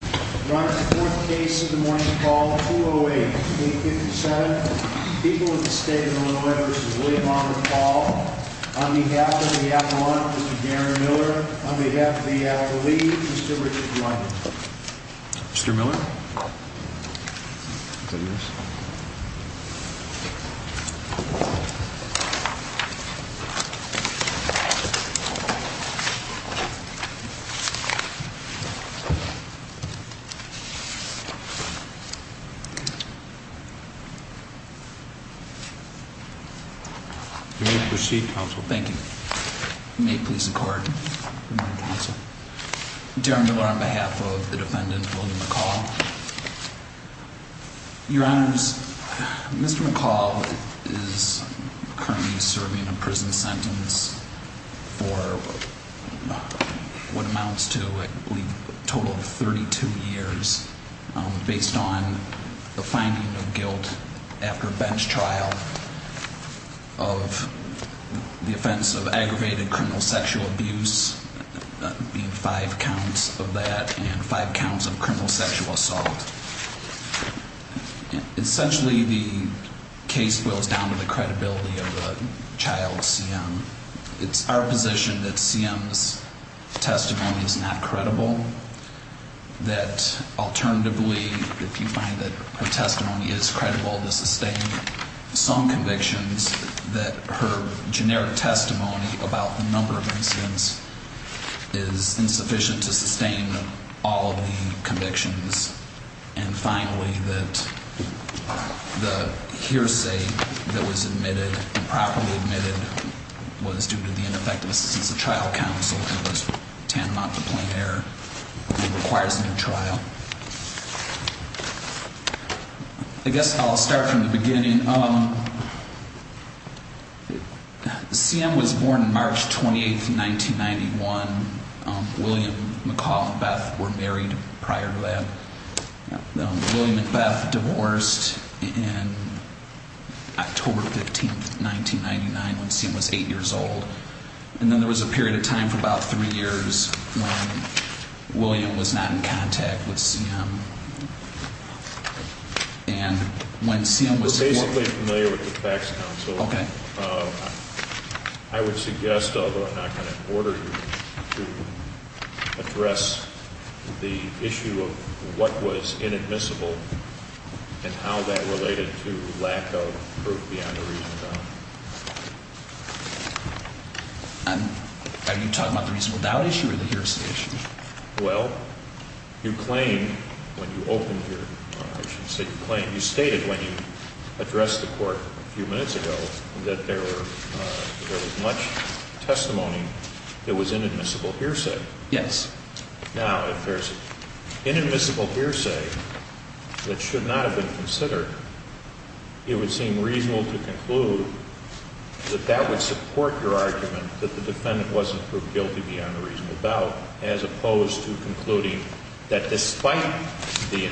4th case of the morning call 208-857 People of the State of Illinois v. William Oliver McCall On behalf of the Appellant, Mr. Darren Miller On behalf of the Appellee, Mr. Richard Blunt Mr. Miller Your Honor, the Chief Counsel, thank you May it please the Court Good morning, Counsel Darren Miller on behalf of the Defendant, William McCall Your Honors, Mr. McCall is currently serving a prison sentence for what amounts to a total of 32 years based on the finding of guilt after bench trial of the offense of aggravated criminal sexual abuse being five counts of that and five counts of criminal sexual assault Essentially, the case boils down to the credibility of the child CM It's our position that CM's testimony is not credible that alternatively, if you find that her testimony is credible to sustain some convictions, that her generic testimony will sustain all of the convictions and finally, that the hearsay that was admitted and properly admitted was due to the ineffectiveness of the trial counsel who was tantamount to plain error and requires a new trial I guess I'll start from the beginning CM was born March 28th, 1991 William McCall and Beth were married prior to that William and Beth divorced in October 15th, 1999 when CM was eight years old and then there was a period of time for about three years when William was not in contact with CM We're basically familiar with the facts counsel I would suggest, although I'm not going to order you to address the issue of what was inadmissible and how that related to lack of proof beyond the reasonable doubt Are you talking about the reasonable doubt issue or the hearsay issue? Well, you claimed when you opened your conversation You stated when you addressed the court a few minutes ago that there was much testimony that was inadmissible hearsay Yes Now, if there's inadmissible hearsay that should not have been considered it would seem reasonable to conclude that that would support your argument that the defendant wasn't proved guilty beyond the reasonable doubt as opposed to concluding that despite the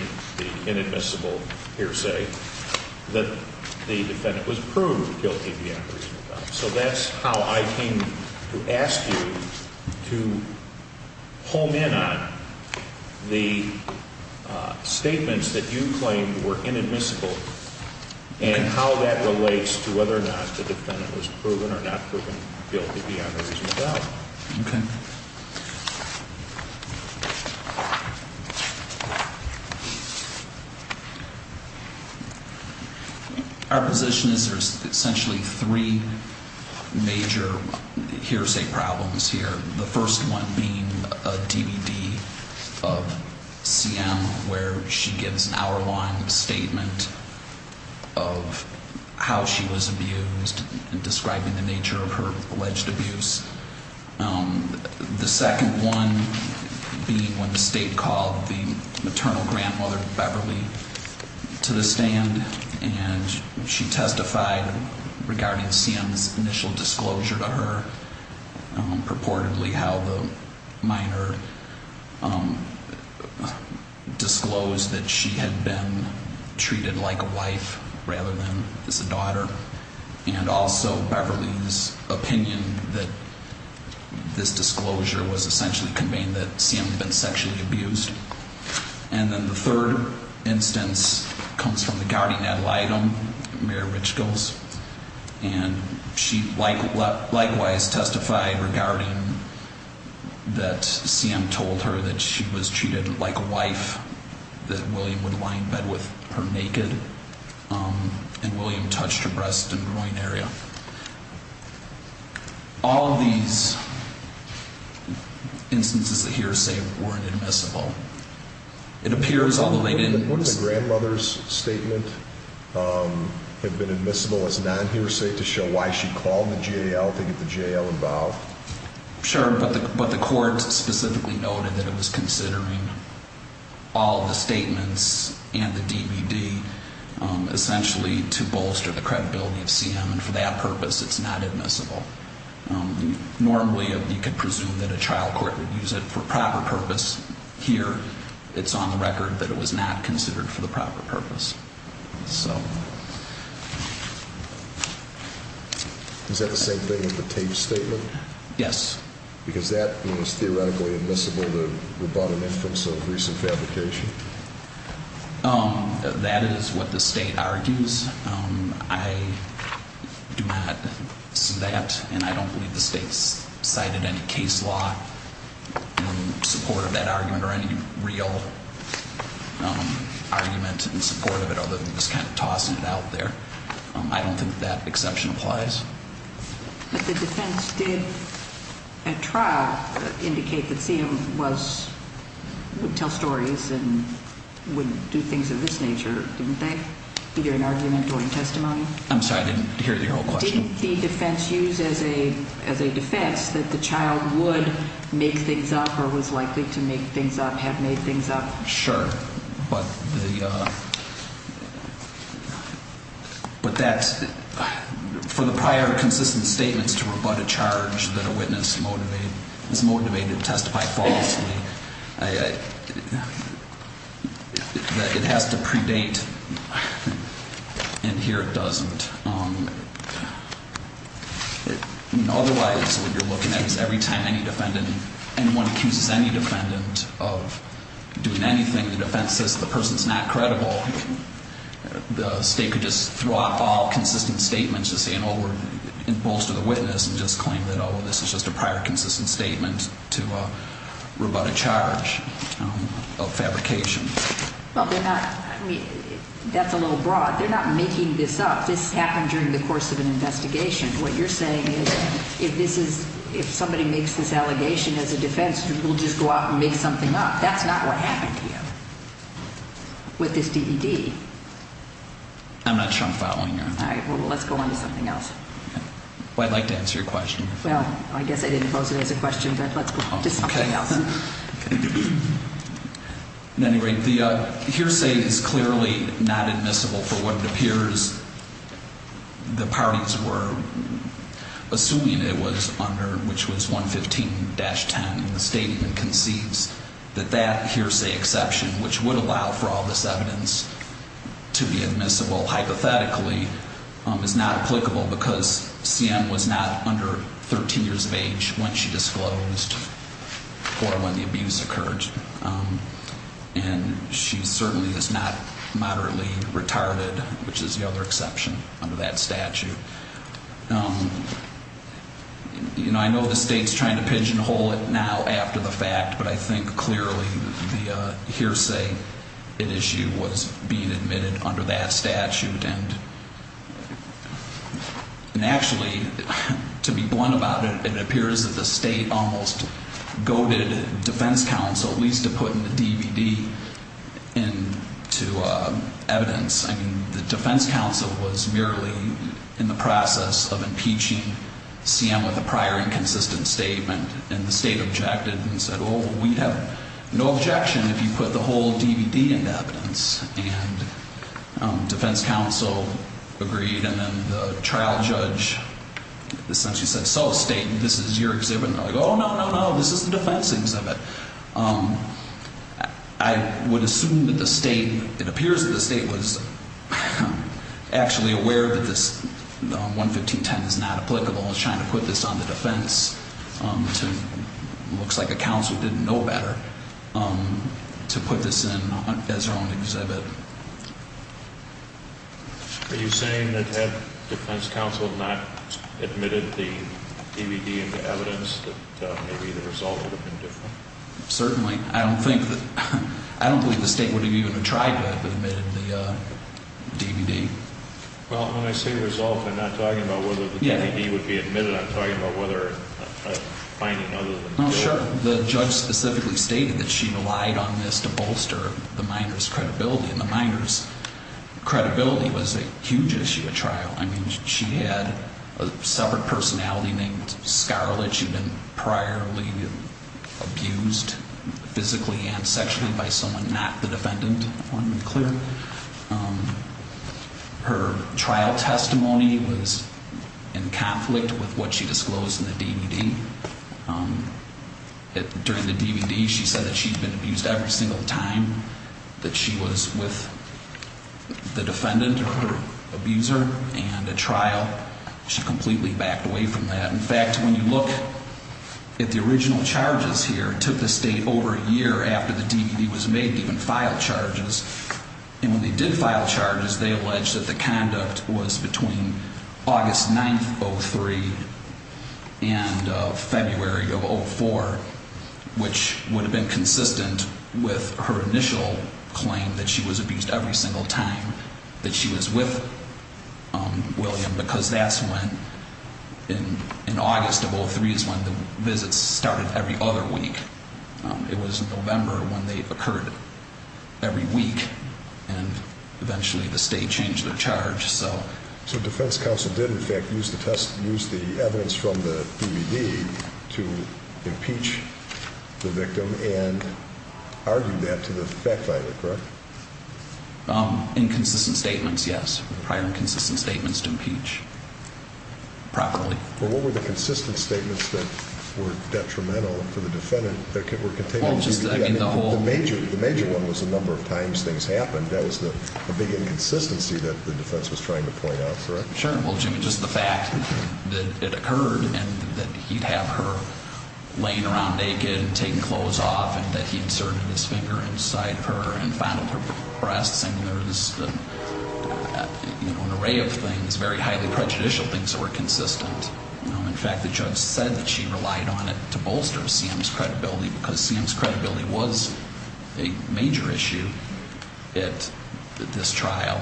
inadmissible hearsay that the defendant was proved guilty beyond the reasonable doubt So that's how I came to ask you to hone in on the statements that you claimed were inadmissible and how that relates to whether or not the defendant was proven or not proven guilty beyond the reasonable doubt Okay Our position is there's essentially three major hearsay problems here The first one being a DVD of CM where she gives an hour-long statement of how she was abused and describing the nature of her alleged abuse The second one being when the state called the maternal grandmother, Beverly, to the stand and she testified regarding CM's initial disclosure to her purportedly how the minor disclosed that she had been treated like a wife rather than as a daughter and also Beverly's opinion that this disclosure was essentially conveying that CM had been sexually abused And then the third instance comes from the guardian ad litem, Mary Richgolds and she likewise testified regarding that CM told her that she was treated like a wife that William would lie in bed with her naked and William touched her breast and groin area All of these instances of hearsay weren't admissible What if the grandmother's statement had been admissible as non-hearsay to show why she called the jail to get the jail involved? Sure, but the court specifically noted that it was considering all of the statements and the DVD essentially to bolster the credibility of CM and for that purpose it's not admissible Normally you could presume that a trial court would use it for proper purpose Here it's on the record that it was not considered for the proper purpose Is that the same thing with the tape statement? Yes Because that is theoretically admissible to rebut an inference of recent fabrication? That is what the state argues I do not see that and I don't believe the state's cited any case law in support of that argument or any real argument in support of it other than just kind of tossing it out there I don't think that exception applies But the defense did at trial indicate that CM would tell stories and would do things of this nature, didn't they? Either in argument or in testimony? I'm sorry, I didn't hear your whole question Didn't the defense use as a defense that the child would make things up or was likely to make things up, had made things up? Sure, but for the prior consistent statements to rebut a charge that a witness is motivated to testify falsely It has to predate and here it doesn't Otherwise what you're looking at is every time any defendant, anyone accuses any defendant of doing anything, the defense says the person's not credible The state could just throw out all consistent statements and say we're in bolster the witness and just claim that this is just a prior consistent statement to rebut a charge of fabrication That's a little broad. They're not making this up. This happened during the course of an investigation What you're saying is if somebody makes this allegation as a defense, we'll just go out and make something up That's not what happened here with this DVD I'm not sure I'm following you All right, well let's go on to something else I'd like to answer your question Well, I guess I didn't pose it as a question, but let's go on to something else At any rate, the hearsay is clearly not admissible for what it appears the parties were assuming it was under, which was 115-10 And the statement concedes that that hearsay exception, which would allow for all this evidence to be admissible hypothetically, is not applicable Because CM was not under 13 years of age when she disclosed or when the abuse occurred And she certainly is not moderately retarded, which is the other exception under that statute I know the state's trying to pigeonhole it now after the fact, but I think clearly the hearsay issue was being admitted under that statute And actually, to be blunt about it, it appears that the state almost goaded defense counsel at least to put the DVD into evidence I mean, the defense counsel was merely in the process of impeaching CM with a prior inconsistent statement And the state objected and said, oh, we have no objection if you put the whole DVD into evidence And defense counsel agreed, and then the trial judge essentially said, so, state, this is your exhibit And they're like, oh, no, no, no, this is the defense exhibit I would assume that the state, it appears that the state was actually aware that this 115-10 is not applicable And was trying to put this on the defense to, looks like a counsel didn't know better, to put this in as their own exhibit Are you saying that had defense counsel not admitted the DVD into evidence, that maybe the result would have been different? Certainly. I don't think that, I don't believe the state would have even tried to have admitted the DVD Well, when I say result, I'm not talking about whether the DVD would be admitted, I'm talking about whether a finding other than the DVD Well, sure, the judge specifically stated that she relied on this to bolster the minor's credibility And the minor's credibility was a huge issue at trial I mean, she had a separate personality named Scarlett, she'd been priorly abused physically and sexually by someone not the defendant Her trial testimony was in conflict with what she disclosed in the DVD During the DVD, she said that she'd been abused every single time that she was with the defendant or her abuser And at trial, she completely backed away from that In fact, when you look at the original charges here, it took the state over a year after the DVD was made to even file charges And when they did file charges, they alleged that the conduct was between August 9th, 2003 and February of 2004 Which would have been consistent with her initial claim that she was abused every single time that she was with William Because that's when, in August of 2003, is when the visits started every other week It was November when they occurred every week, and eventually the state changed their charge So defense counsel did in fact use the evidence from the DVD to impeach the victim and argue that to the effect of it, correct? Inconsistent statements, yes. Prior inconsistent statements to impeach properly But what were the consistent statements that were detrimental to the defendant that were contained in the DVD? The major one was the number of times things happened. That was the big inconsistency that the defense was trying to point out, correct? Sure. Well, Jimmy, just the fact that it occurred and that he'd have her laying around naked and taking clothes off And that he inserted his finger inside her and fondled her breasts and there was an array of things, very highly prejudicial things that were consistent In fact, the judge said that she relied on it to bolster CM's credibility because CM's credibility was a major issue at this trial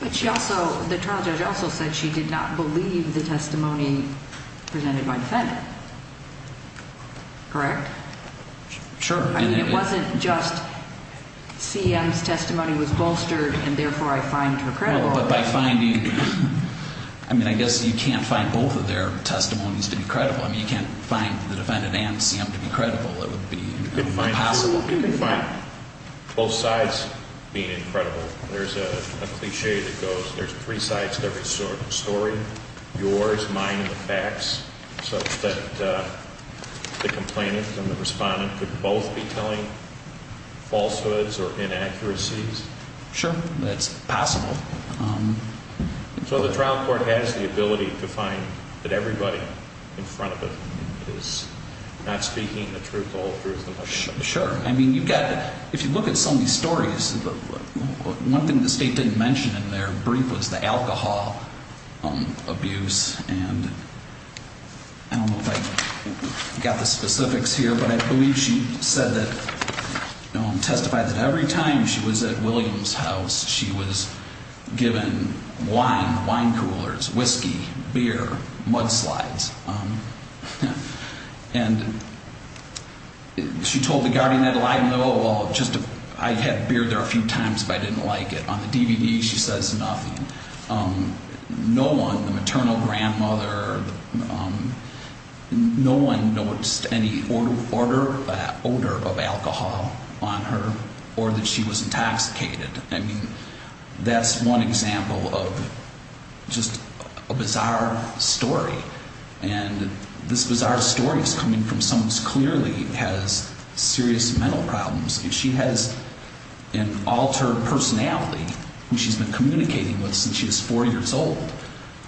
But she also, the trial judge also said she did not believe the testimony presented by the defendant, correct? Sure. I mean, it wasn't just CM's testimony was bolstered and therefore I find her credible Well, but by finding, I mean, I guess you can't find both of their testimonies to be credible I mean, you can't find the defendant and CM to be credible. It would be impossible Well, you can find both sides being incredible. There's a cliche that goes, there's three sides to every story Yours, mine, and the facts, such that the complainant and the respondent could both be telling falsehoods or inaccuracies Sure, that's possible So the trial court has the ability to find that everybody in front of it is not speaking the truth, the whole truth of the matter Sure. I mean, you've got, if you look at some of these stories, one thing the state didn't mention in their brief was the alcohol abuse And I don't know if I got the specifics here, but I believe she said that, testified that every time she was at Williams' house She was given wine, wine coolers, whiskey, beer, mudslides, and she told the guardian that, well, I had beer there a few times, but I didn't like it That's one example of just a bizarre story, and this bizarre story is coming from someone who clearly has serious mental problems And she has an altered personality, which she's been communicating with since she was four years old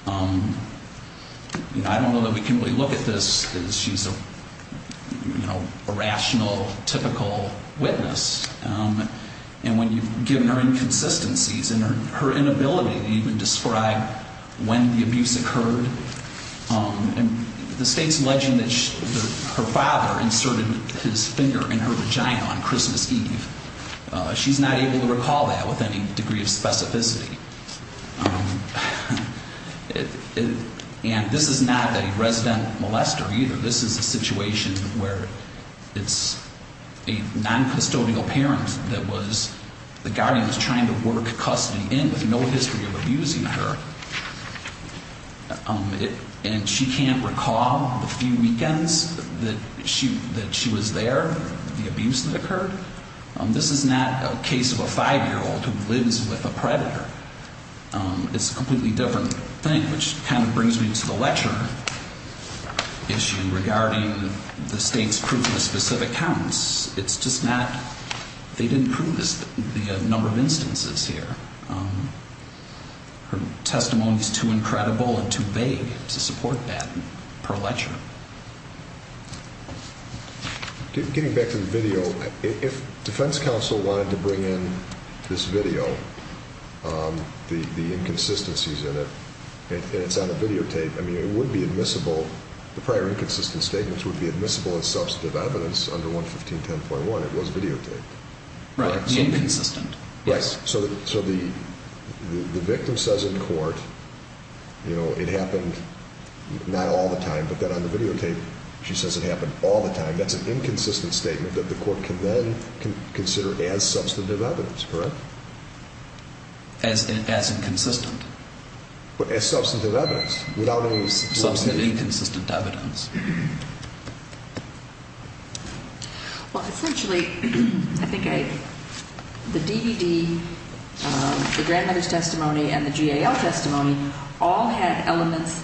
I don't know that we can really look at this as she's a rational, typical witness And when you've given her inconsistencies and her inability to even describe when the abuse occurred And the state's alleging that her father inserted his finger in her vagina on Christmas Eve She's not able to recall that with any degree of specificity And this is not a resident molester either, this is a situation where it's a non-custodial parent that the guardian was trying to work custody in with no history of abusing her And she can't recall the few weekends that she was there, the abuse that occurred This is not a case of a five-year-old who lives with a predator It's a completely different thing, which kind of brings me to the lecture issue regarding the state's proof of specific counts It's just not, they didn't prove the number of instances here Her testimony is too incredible and too vague to support that per lecture Getting back to the video, if defense counsel wanted to bring in this video, the inconsistencies in it And it's on a videotape, I mean it would be admissible, the prior inconsistent statements would be admissible as substantive evidence under 11510.1 It was videotaped Right, the inconsistent So the victim says in court, it happened not all the time, but then on the videotape she says it happened all the time That's an inconsistent statement that the court can then consider as substantive evidence, correct? As inconsistent But as substantive evidence Substantive inconsistent evidence Well essentially, I think the DVD, the grandmother's testimony, and the GAL testimony all had elements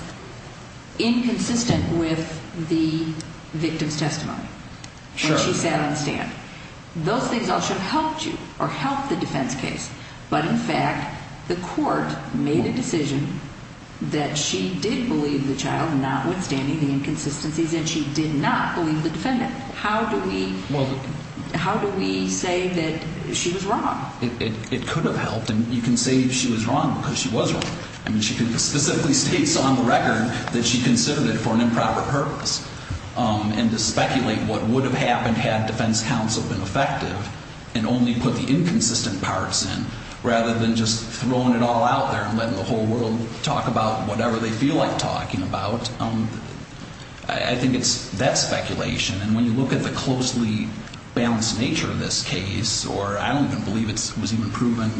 inconsistent with the victim's testimony When she sat on the stand Those things all should have helped you, or helped the defense case But in fact, the court made a decision that she did believe the child, notwithstanding the inconsistencies, and she did not believe the defendant How do we, how do we say that she was wrong? It could have helped, and you can say she was wrong because she was wrong I mean she specifically states on the record that she considered it for an improper purpose And to speculate what would have happened had defense counsel been effective and only put the inconsistent parts in Rather than just throwing it all out there and letting the whole world talk about whatever they feel like talking about I think it's that speculation, and when you look at the closely balanced nature of this case Or I don't even believe it was even proven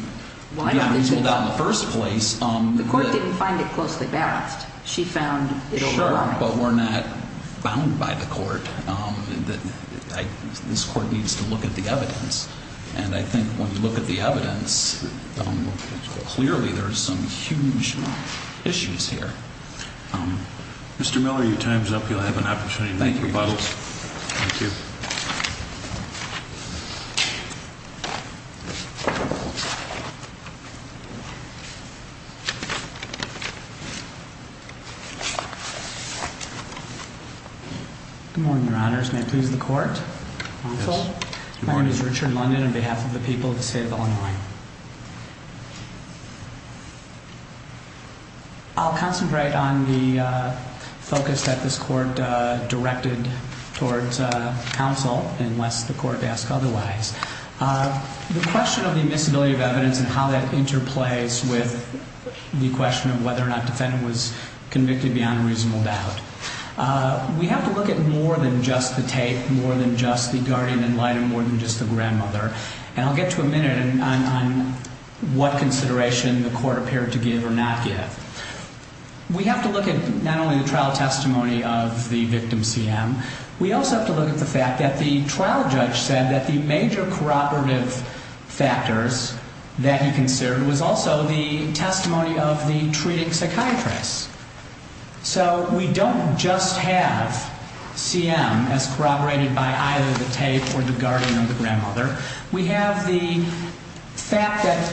reasonable in the first place The court didn't find it closely balanced Sure, but we're not bound by the court This court needs to look at the evidence And I think when you look at the evidence Clearly there's some huge issues here Mr. Miller, your time's up, you'll have an opportunity to make your rebuttals Thank you Good morning, your honors, may it please the court My name is Richard London, on behalf of the people of the state of Illinois I'll concentrate on the focus that this court directed towards counsel Unless the court asked otherwise The question of the admissibility of evidence and how that interplays with The question of whether or not the defendant was convicted beyond a reasonable doubt We have to look at more than just the tape, more than just the guardian in light, and more than just the grandmother And I'll get to a minute on what consideration the court appeared to give or not give We have to look at not only the trial testimony of the victim CM We also have to look at the fact that the trial judge said that the major corroborative factors That he considered was also the testimony of the treating psychiatrist So we don't just have CM as corroborated by either the tape or the guardian of the grandmother We have the fact that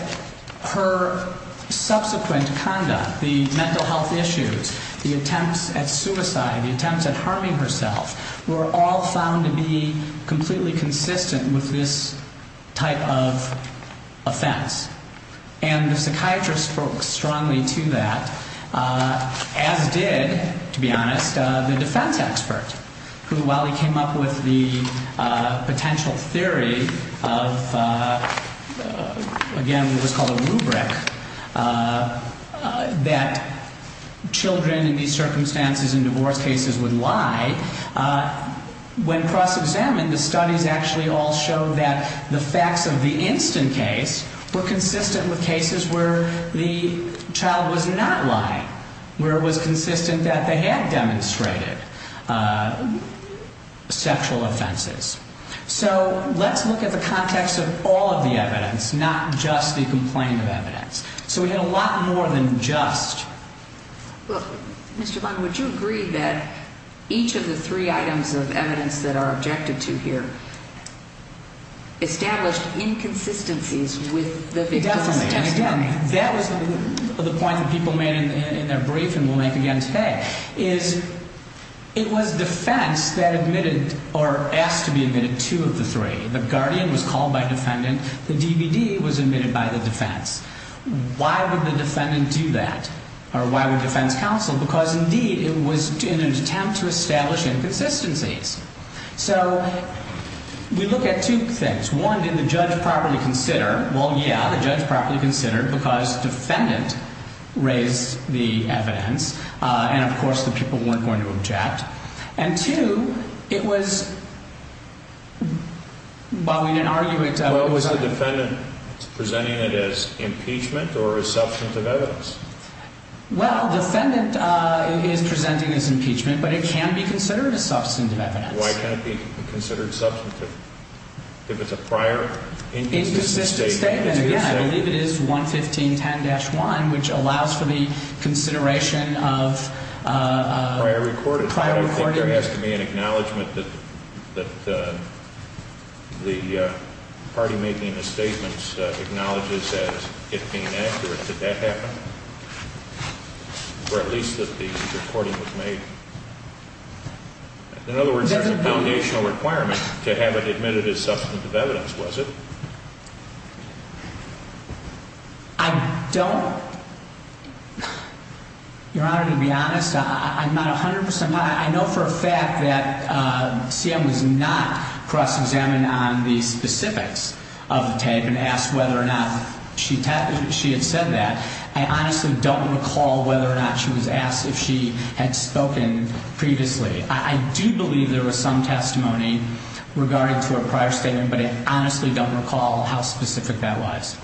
her subsequent conduct, the mental health issues The attempts at suicide, the attempts at harming herself Were all found to be completely consistent with this type of offense And the psychiatrist spoke strongly to that, as did, to be honest, the defense expert Who, while he came up with the potential theory of, again, what was called a rubric That children in these circumstances in divorce cases would lie When cross-examined, the studies actually all showed that the facts of the instant case Were consistent with cases where the child was not lying Where it was consistent that they had demonstrated sexual offenses So let's look at the context of all of the evidence, not just the complaint of evidence So we had a lot more than just Well, Mr. Bond, would you agree that each of the three items of evidence that are objected to here Established inconsistencies with the victim's testimony Definitely, and again, that was the point that people made in their briefing we'll make again today Is, it was defense that admitted, or asked to be admitted, two of the three The guardian was called by defendant, the DVD was admitted by the defense Why would the defendant do that, or why would defense counsel Because indeed it was in an attempt to establish inconsistencies So, we look at two things One, did the judge properly consider Well, yeah, the judge properly considered Because defendant raised the evidence And of course the people weren't going to object And two, it was, well we didn't argue it Well, was the defendant presenting it as impeachment or as substantive evidence Well, defendant is presenting as impeachment, but it can be considered as substantive evidence Why can't it be considered substantive If it's a prior inconsistent statement And again, I believe it is 11510-1, which allows for the consideration of Prior recorded Prior recorded I don't think there has to be an acknowledgement that the party making the statements acknowledges as it being accurate Did that happen? Or at least that the recording was made In other words, there's a foundational requirement to have it admitted as substantive evidence, was it? I don't Your Honor, to be honest, I'm not 100% I know for a fact that CM was not cross-examined on the specifics of the tape And asked whether or not she had said that I honestly don't recall whether or not she was asked if she had spoken previously I do believe there was some testimony regarding to a prior statement But I honestly don't recall how specific that was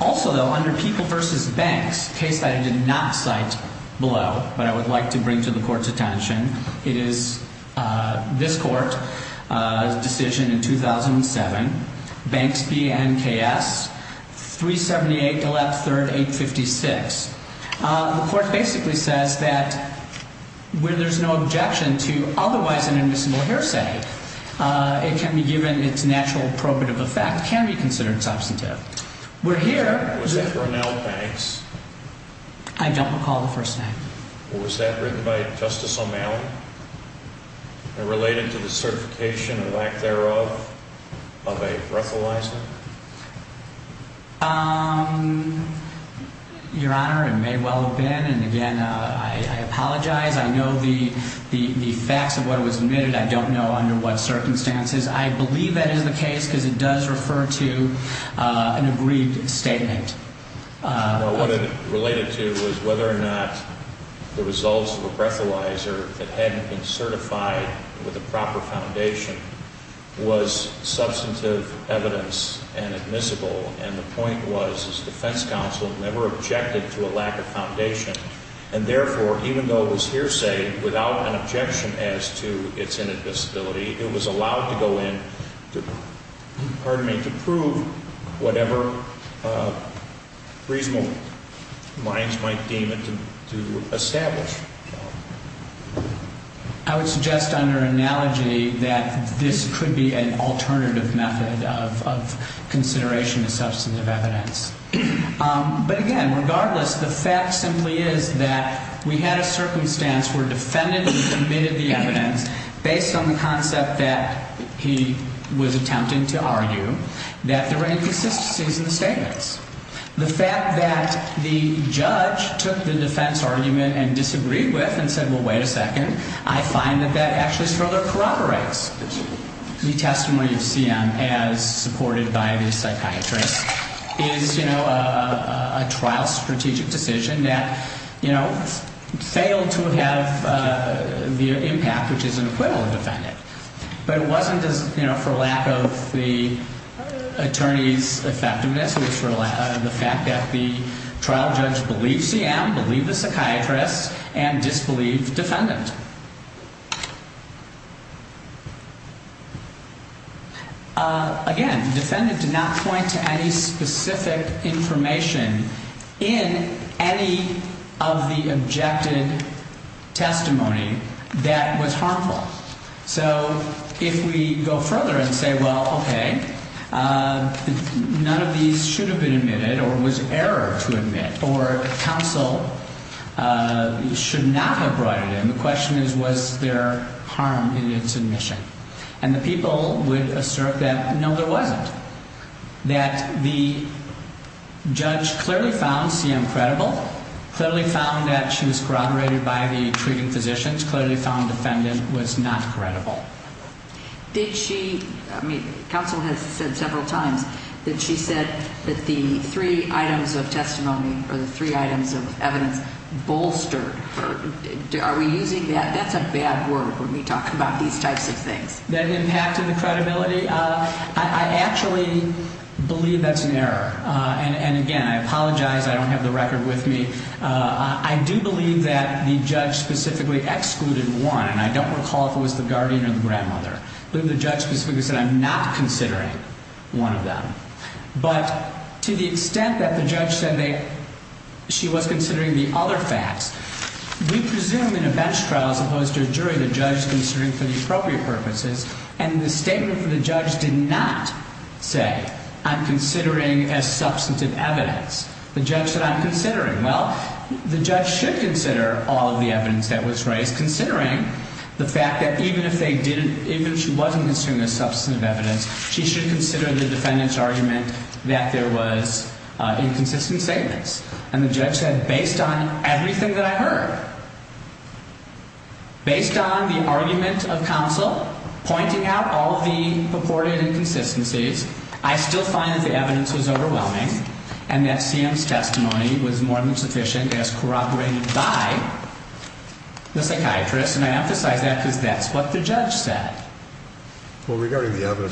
Also, though, under people versus banks, case that I did not cite below But I would like to bring to the court's attention It is this court's decision in 2007 Banks BNKS 378 Gillette 3rd 856 The court basically says that When there's no objection to otherwise an invisible hearsay It can be given its natural appropriate of the fact can be considered substantive We're here I don't recall the first name Was that written by Justice O'Malley? Related to the certification of lack thereof of a breathalyzer? Your Honor, it may well have been And again, I apologize I know the facts of what was admitted I don't know under what circumstances I believe that is the case Because it does refer to an agreed statement What it related to was whether or not the results of a breathalyzer That hadn't been certified with a proper foundation Was substantive evidence and admissible And the point was this defense counsel never objected to a lack of foundation And therefore, even though it was hearsay Without an objection as to its inadmissibility It was allowed to go in to prove whatever reasonable minds might deem it to establish I would suggest under analogy That this could be an alternative method of consideration of substantive evidence But again, regardless, the fact simply is that We had a circumstance where defendants admitted the evidence Based on the concept that he was attempting to argue That there were inconsistencies in the statements The fact that the judge took the defense argument and disagreed with And said, well, wait a second I find that that actually further corroborates the testimony of CM As supported by the psychiatrist Is, you know, a trial strategic decision that, you know Failed to have the impact which is an acquittal of the defendant But it wasn't for lack of the attorney's effectiveness It was for the fact that the trial judge believed CM Believed the psychiatrist and disbelieved the defendant Again, the defendant did not point to any specific information In any of the objected testimony that was harmful So if we go further and say, well, okay None of these should have been admitted or was error to admit Or counsel should not have brought it in The question is, was there harm in its admission And the people would assert that, no, there wasn't That the judge clearly found CM credible Clearly found that she was corroborated by the treating physicians Clearly found the defendant was not credible Did she, I mean, counsel has said several times That she said that the three items of testimony Or the three items of evidence bolstered her Are we using that, that's a bad word when we talk about these types of things That impacted the credibility I actually believe that's an error And again, I apologize, I don't have the record with me I do believe that the judge specifically excluded one And I don't recall if it was the guardian or the grandmother I believe the judge specifically said I'm not considering one of them But to the extent that the judge said she was considering the other facts We presume in a bench trial as opposed to a jury The judge is considering for the appropriate purposes And the statement from the judge did not say I'm considering as substantive evidence The judge said I'm considering Well, the judge should consider all of the evidence that was raised Considering the fact that even if they didn't Even if she wasn't considering as substantive evidence She should consider the defendant's argument That there was inconsistent statements And the judge said based on everything that I heard Based on the argument of counsel Pointing out all of the purported inconsistencies I still find that the evidence was overwhelming And that CM's testimony was more than sufficient As corroborated by the psychiatrist And I emphasize that because that's what the judge said Well, regarding the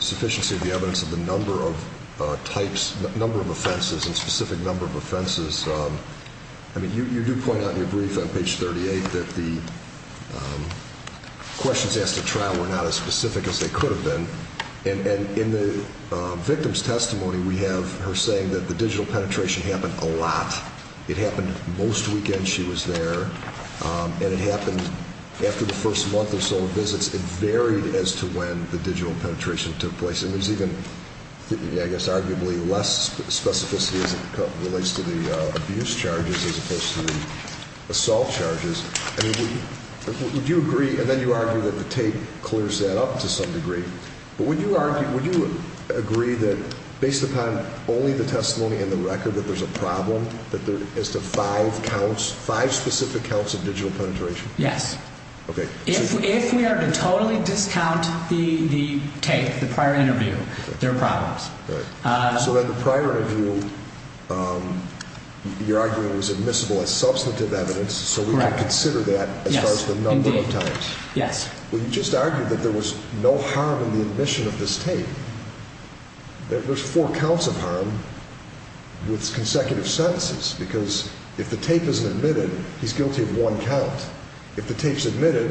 sufficiency of the evidence Of the number of offenses and specific number of offenses You do point out in your brief on page 38 That the questions asked at trial were not as specific as they could have been And in the victim's testimony We have her saying that the digital penetration happened a lot It happened most weekends she was there And it happened after the first month or so of visits It varied as to when the digital penetration took place And there's even, I guess, arguably less specificity As it relates to the abuse charges as opposed to the assault charges I mean, would you agree And then you argue that the tape clears that up to some degree But would you agree that based upon only the testimony and the record That there's a problem as to five specific counts of digital penetration? Yes Okay If we are to totally discount the tape, the prior interview There are problems So in the prior interview You're arguing it was admissible as substantive evidence So we can consider that as far as the number of times Yes Well, you just argued that there was no harm in the admission of this tape There's four counts of harm with consecutive sentences Because if the tape isn't admitted, he's guilty of one count If the tape's admitted,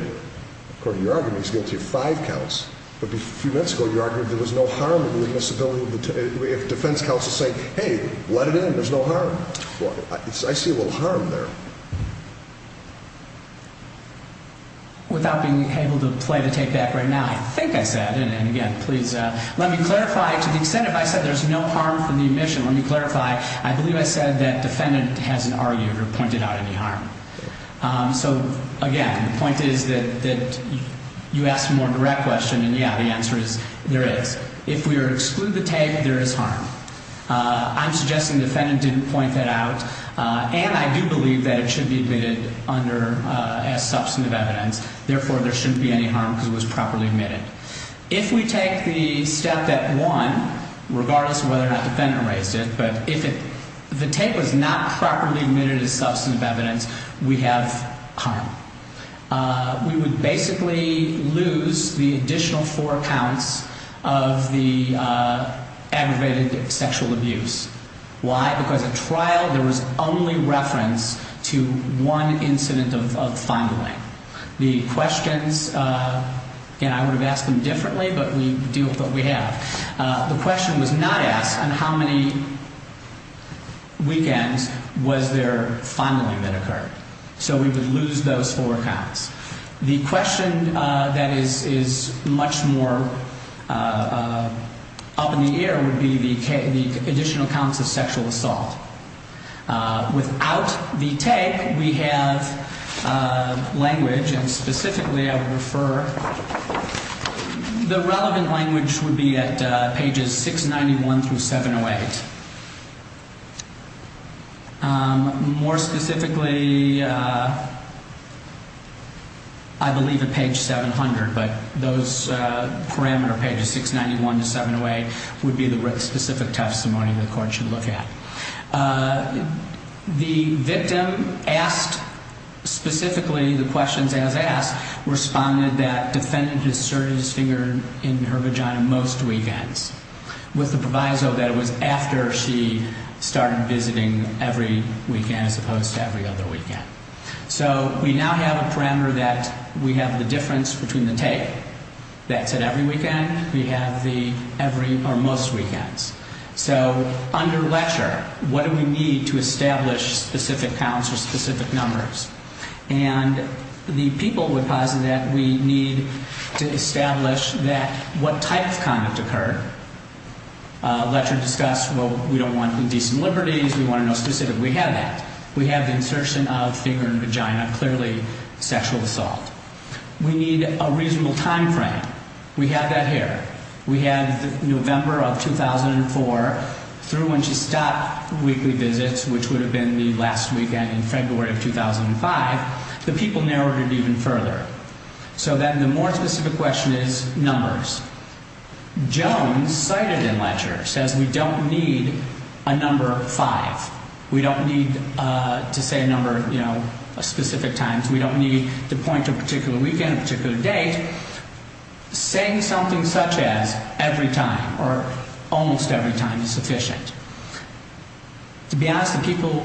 according to your argument, he's guilty of five counts But a few minutes ago you argued there was no harm in the admissibility If defense counsel's saying, hey, let it in, there's no harm Well, I see a little harm there Without being able to play the tape back right now I think I said, and again, please let me clarify To the extent if I said there's no harm from the admission Let me clarify, I believe I said that defendant hasn't argued or pointed out any harm So again, the point is that you asked a more direct question And yeah, the answer is there is If we are to exclude the tape, there is harm I'm suggesting the defendant didn't point that out And I do believe that it should be admitted as substantive evidence Therefore, there shouldn't be any harm because it was properly admitted If we take the step that one, regardless of whether or not the defendant raised it But if the tape was not properly admitted as substantive evidence, we have harm We would basically lose the additional four counts of the aggravated sexual abuse Why? Because at trial there was only reference to one incident of fondling The questions, and I would have asked them differently, but we deal with what we have The question was not asked on how many weekends was there fondling that occurred So we would lose those four counts The question that is much more up in the air would be the additional counts of sexual assault Without the tape, we have language, and specifically I would refer The relevant language would be at pages 691 through 708 More specifically, I believe at page 700 But those parameter pages 691 to 708 would be the specific testimony the court should look at The victim asked specifically the questions as asked Responded that the defendant inserted his finger in her vagina most weekends With the proviso that it was after she started visiting every weekend as opposed to every other weekend So we now have a parameter that we have the difference between the tape That's at every weekend, we have the every or most weekends So under Letcher, what do we need to establish specific counts or specific numbers? And the people would posit that we need to establish what type of conduct occurred Letcher discussed, well, we don't want indecent liberties, we want to know specifically We have that, we have the insertion of finger in vagina, clearly sexual assault We need a reasonable time frame, we have that here We have November of 2004 through when she stopped weekly visits Which would have been the last weekend in February of 2005 The people narrowed it even further So then the more specific question is numbers Jones cited in Letcher says we don't need a number five We don't need to say a number, you know, specific times We don't need to point to a particular weekend, a particular date Saying something such as every time or almost every time is sufficient To be honest, the people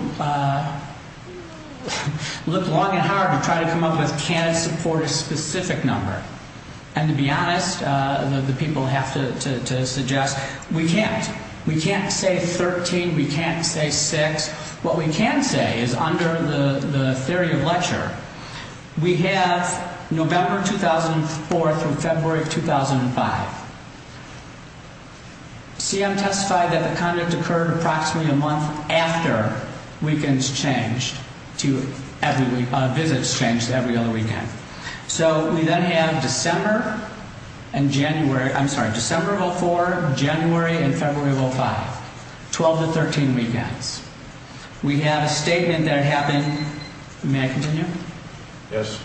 look long and hard to try to come up with can it support a specific number And to be honest, the people have to suggest we can't We can't say 13, we can't say 6 What we can say is under the theory of Letcher We have November 2004 through February 2005 CM testified that the conduct occurred approximately a month after weekends changed Visits changed every other weekend So we then have December and January, I'm sorry, December of 2004, January and February of 2005 12 to 13 weekends We have a statement that happened, may I continue? Yes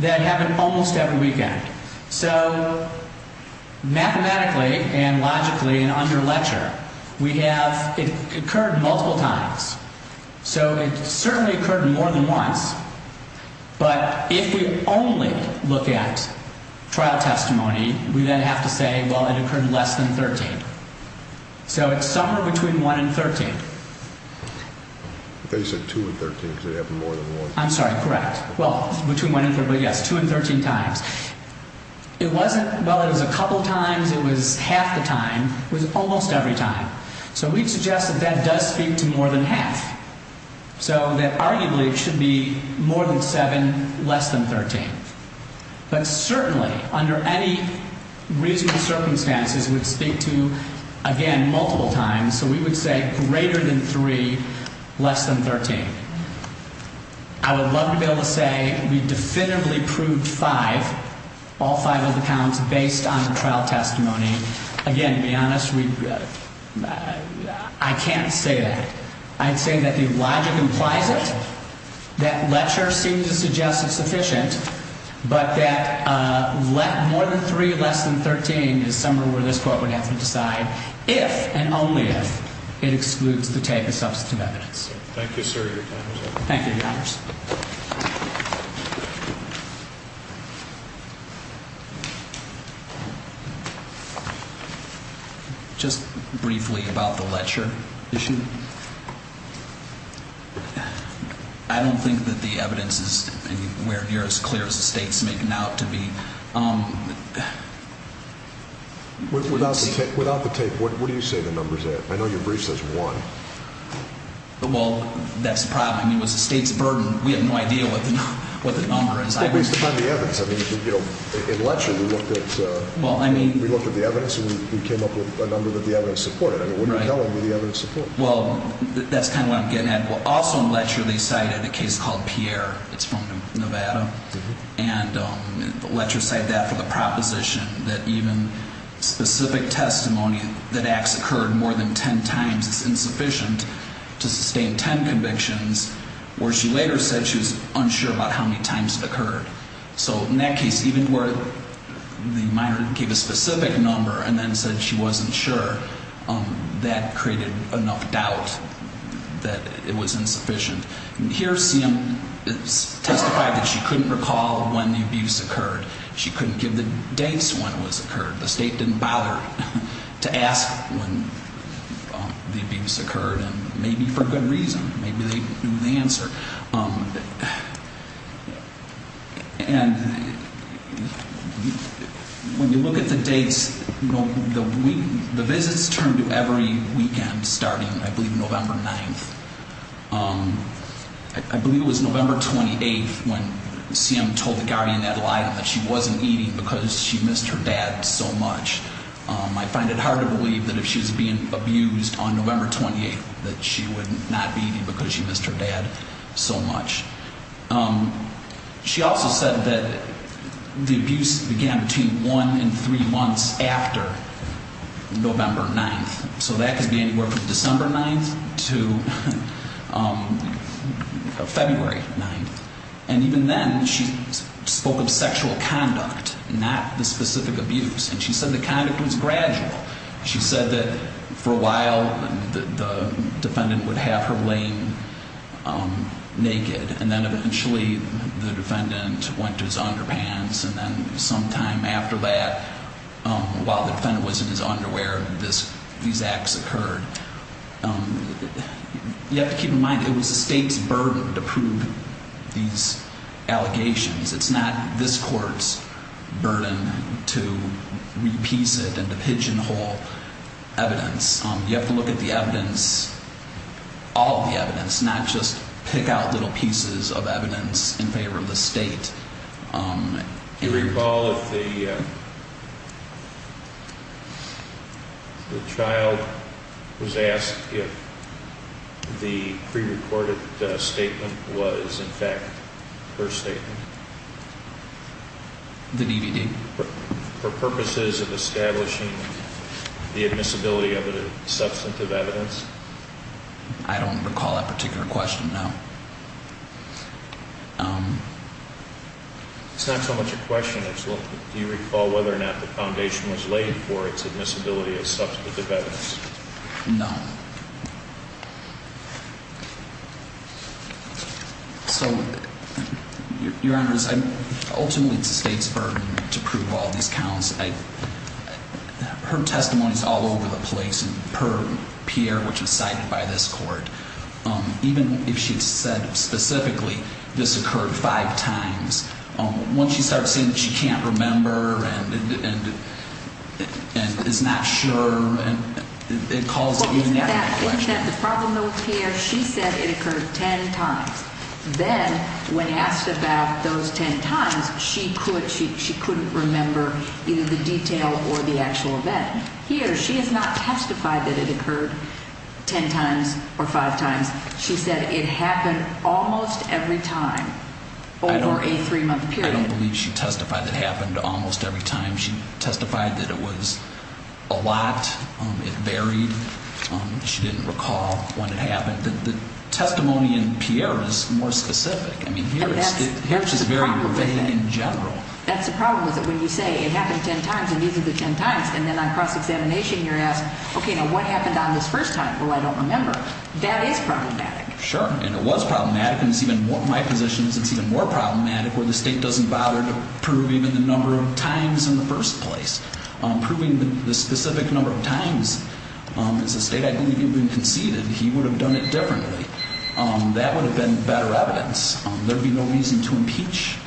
That happened almost every weekend So mathematically and logically and under Letcher We have, it occurred multiple times So it certainly occurred more than once But if we only look at trial testimony We then have to say, well, it occurred less than 13 So it's somewhere between 1 and 13 I thought you said 2 and 13 because it happened more than once I'm sorry, correct Well, between 1 and 13, yes, 2 and 13 times It wasn't, well, it was a couple times, it was half the time It was almost every time So we suggest that that does speak to more than half So that arguably it should be more than 7, less than 13 But certainly under any reasonable circumstances It would speak to, again, multiple times So we would say greater than 3, less than 13 I would love to be able to say we definitively proved 5 All 5 of the counts based on trial testimony Again, to be honest, I can't say that I'd say that the logic implies it That Letcher seemed to suggest it's sufficient But that more than 3, less than 13 Is somewhere where this Court would have to decide If and only if it excludes the type of substantive evidence Thank you, sir, your time is up Thank you, Your Honors Just briefly about the Letcher issue I don't think that the evidence is anywhere near as clear As the State's making out to be Without the tape, what do you say the number's at? I know your brief says 1 Well, that's the problem, I mean, it was the State's burden We have no idea what the number is It's still based upon the evidence I mean, in Letcher, we looked at the evidence And we came up with a number that the evidence supported I mean, what are you telling me the evidence supports? Well, that's kind of what I'm getting at Also in Letcher, they cited a case called Pierre It's from Nevada And Letcher cited that for the proposition That even specific testimony That acts occurred more than 10 times Is insufficient to sustain 10 convictions Where she later said she was unsure About how many times it occurred So in that case, even where the minor gave a specific number And then said she wasn't sure That created enough doubt that it was insufficient Here, CM testified that she couldn't recall When the abuse occurred She couldn't give the dates when it was occurred The State didn't bother to ask when the abuse occurred Maybe for good reason Maybe they knew the answer And when you look at the dates The visits turned to every weekend Starting, I believe, November 9th I believe it was November 28th When CM told the Guardian Adelina That she wasn't eating because she missed her dad so much I find it hard to believe That if she's being abused on November 28th That she would not be eating because she missed her dad so much She also said that the abuse began Between one and three months after November 9th So that could be anywhere from December 9th To February 9th And even then, she spoke of sexual conduct Not the specific abuse And she said the conduct was gradual She said that for a while The defendant would have her laying naked And then eventually the defendant went to his underpants And then sometime after that While the defendant was in his underwear These acts occurred You have to keep in mind It was the State's burden to prove these allegations It's not this court's burden To repiece it and to pigeonhole evidence You have to look at the evidence All of the evidence Not just pick out little pieces of evidence In favor of the State Do you recall if the child was asked If the pre-recorded statement was in fact her statement? The DVD For purposes of establishing the admissibility of it as substantive evidence? I don't recall that particular question, no It's not so much a question as Do you recall whether or not the foundation was laid for its admissibility as substantive evidence? No So, your honors Ultimately it's the State's burden to prove all these counts Her testimony is all over the place Per Pierre, which was cited by this court Even if she had said specifically This occurred five times Once she started saying that she can't remember And is not sure The problem here She said it occurred ten times Then, when asked about those ten times She couldn't remember either the detail or the actual event Here, she has not testified that it occurred ten times or five times She said it happened almost every time Over a three month period I don't believe she testified that it happened almost every time She testified that it was a lot It varied She didn't recall when it happened The testimony in Pierre is more specific Here, she's very vivid in general That's the problem When you say it happened ten times and these are the ten times And then on cross-examination you're asked What happened on this first time? Well, I don't remember That is problematic Sure, and it was problematic In my position, it's even more problematic Where the state doesn't bother to prove Even the number of times in the first place Proving the specific number of times As the state, I believe, had been conceded He would have done it differently That would have been better evidence There would be no reason to impeach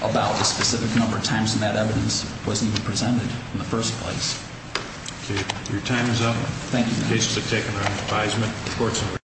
About the specific number of times When that evidence wasn't even presented in the first place Okay, your time is up Thank you, Your Honor The cases have taken their advisement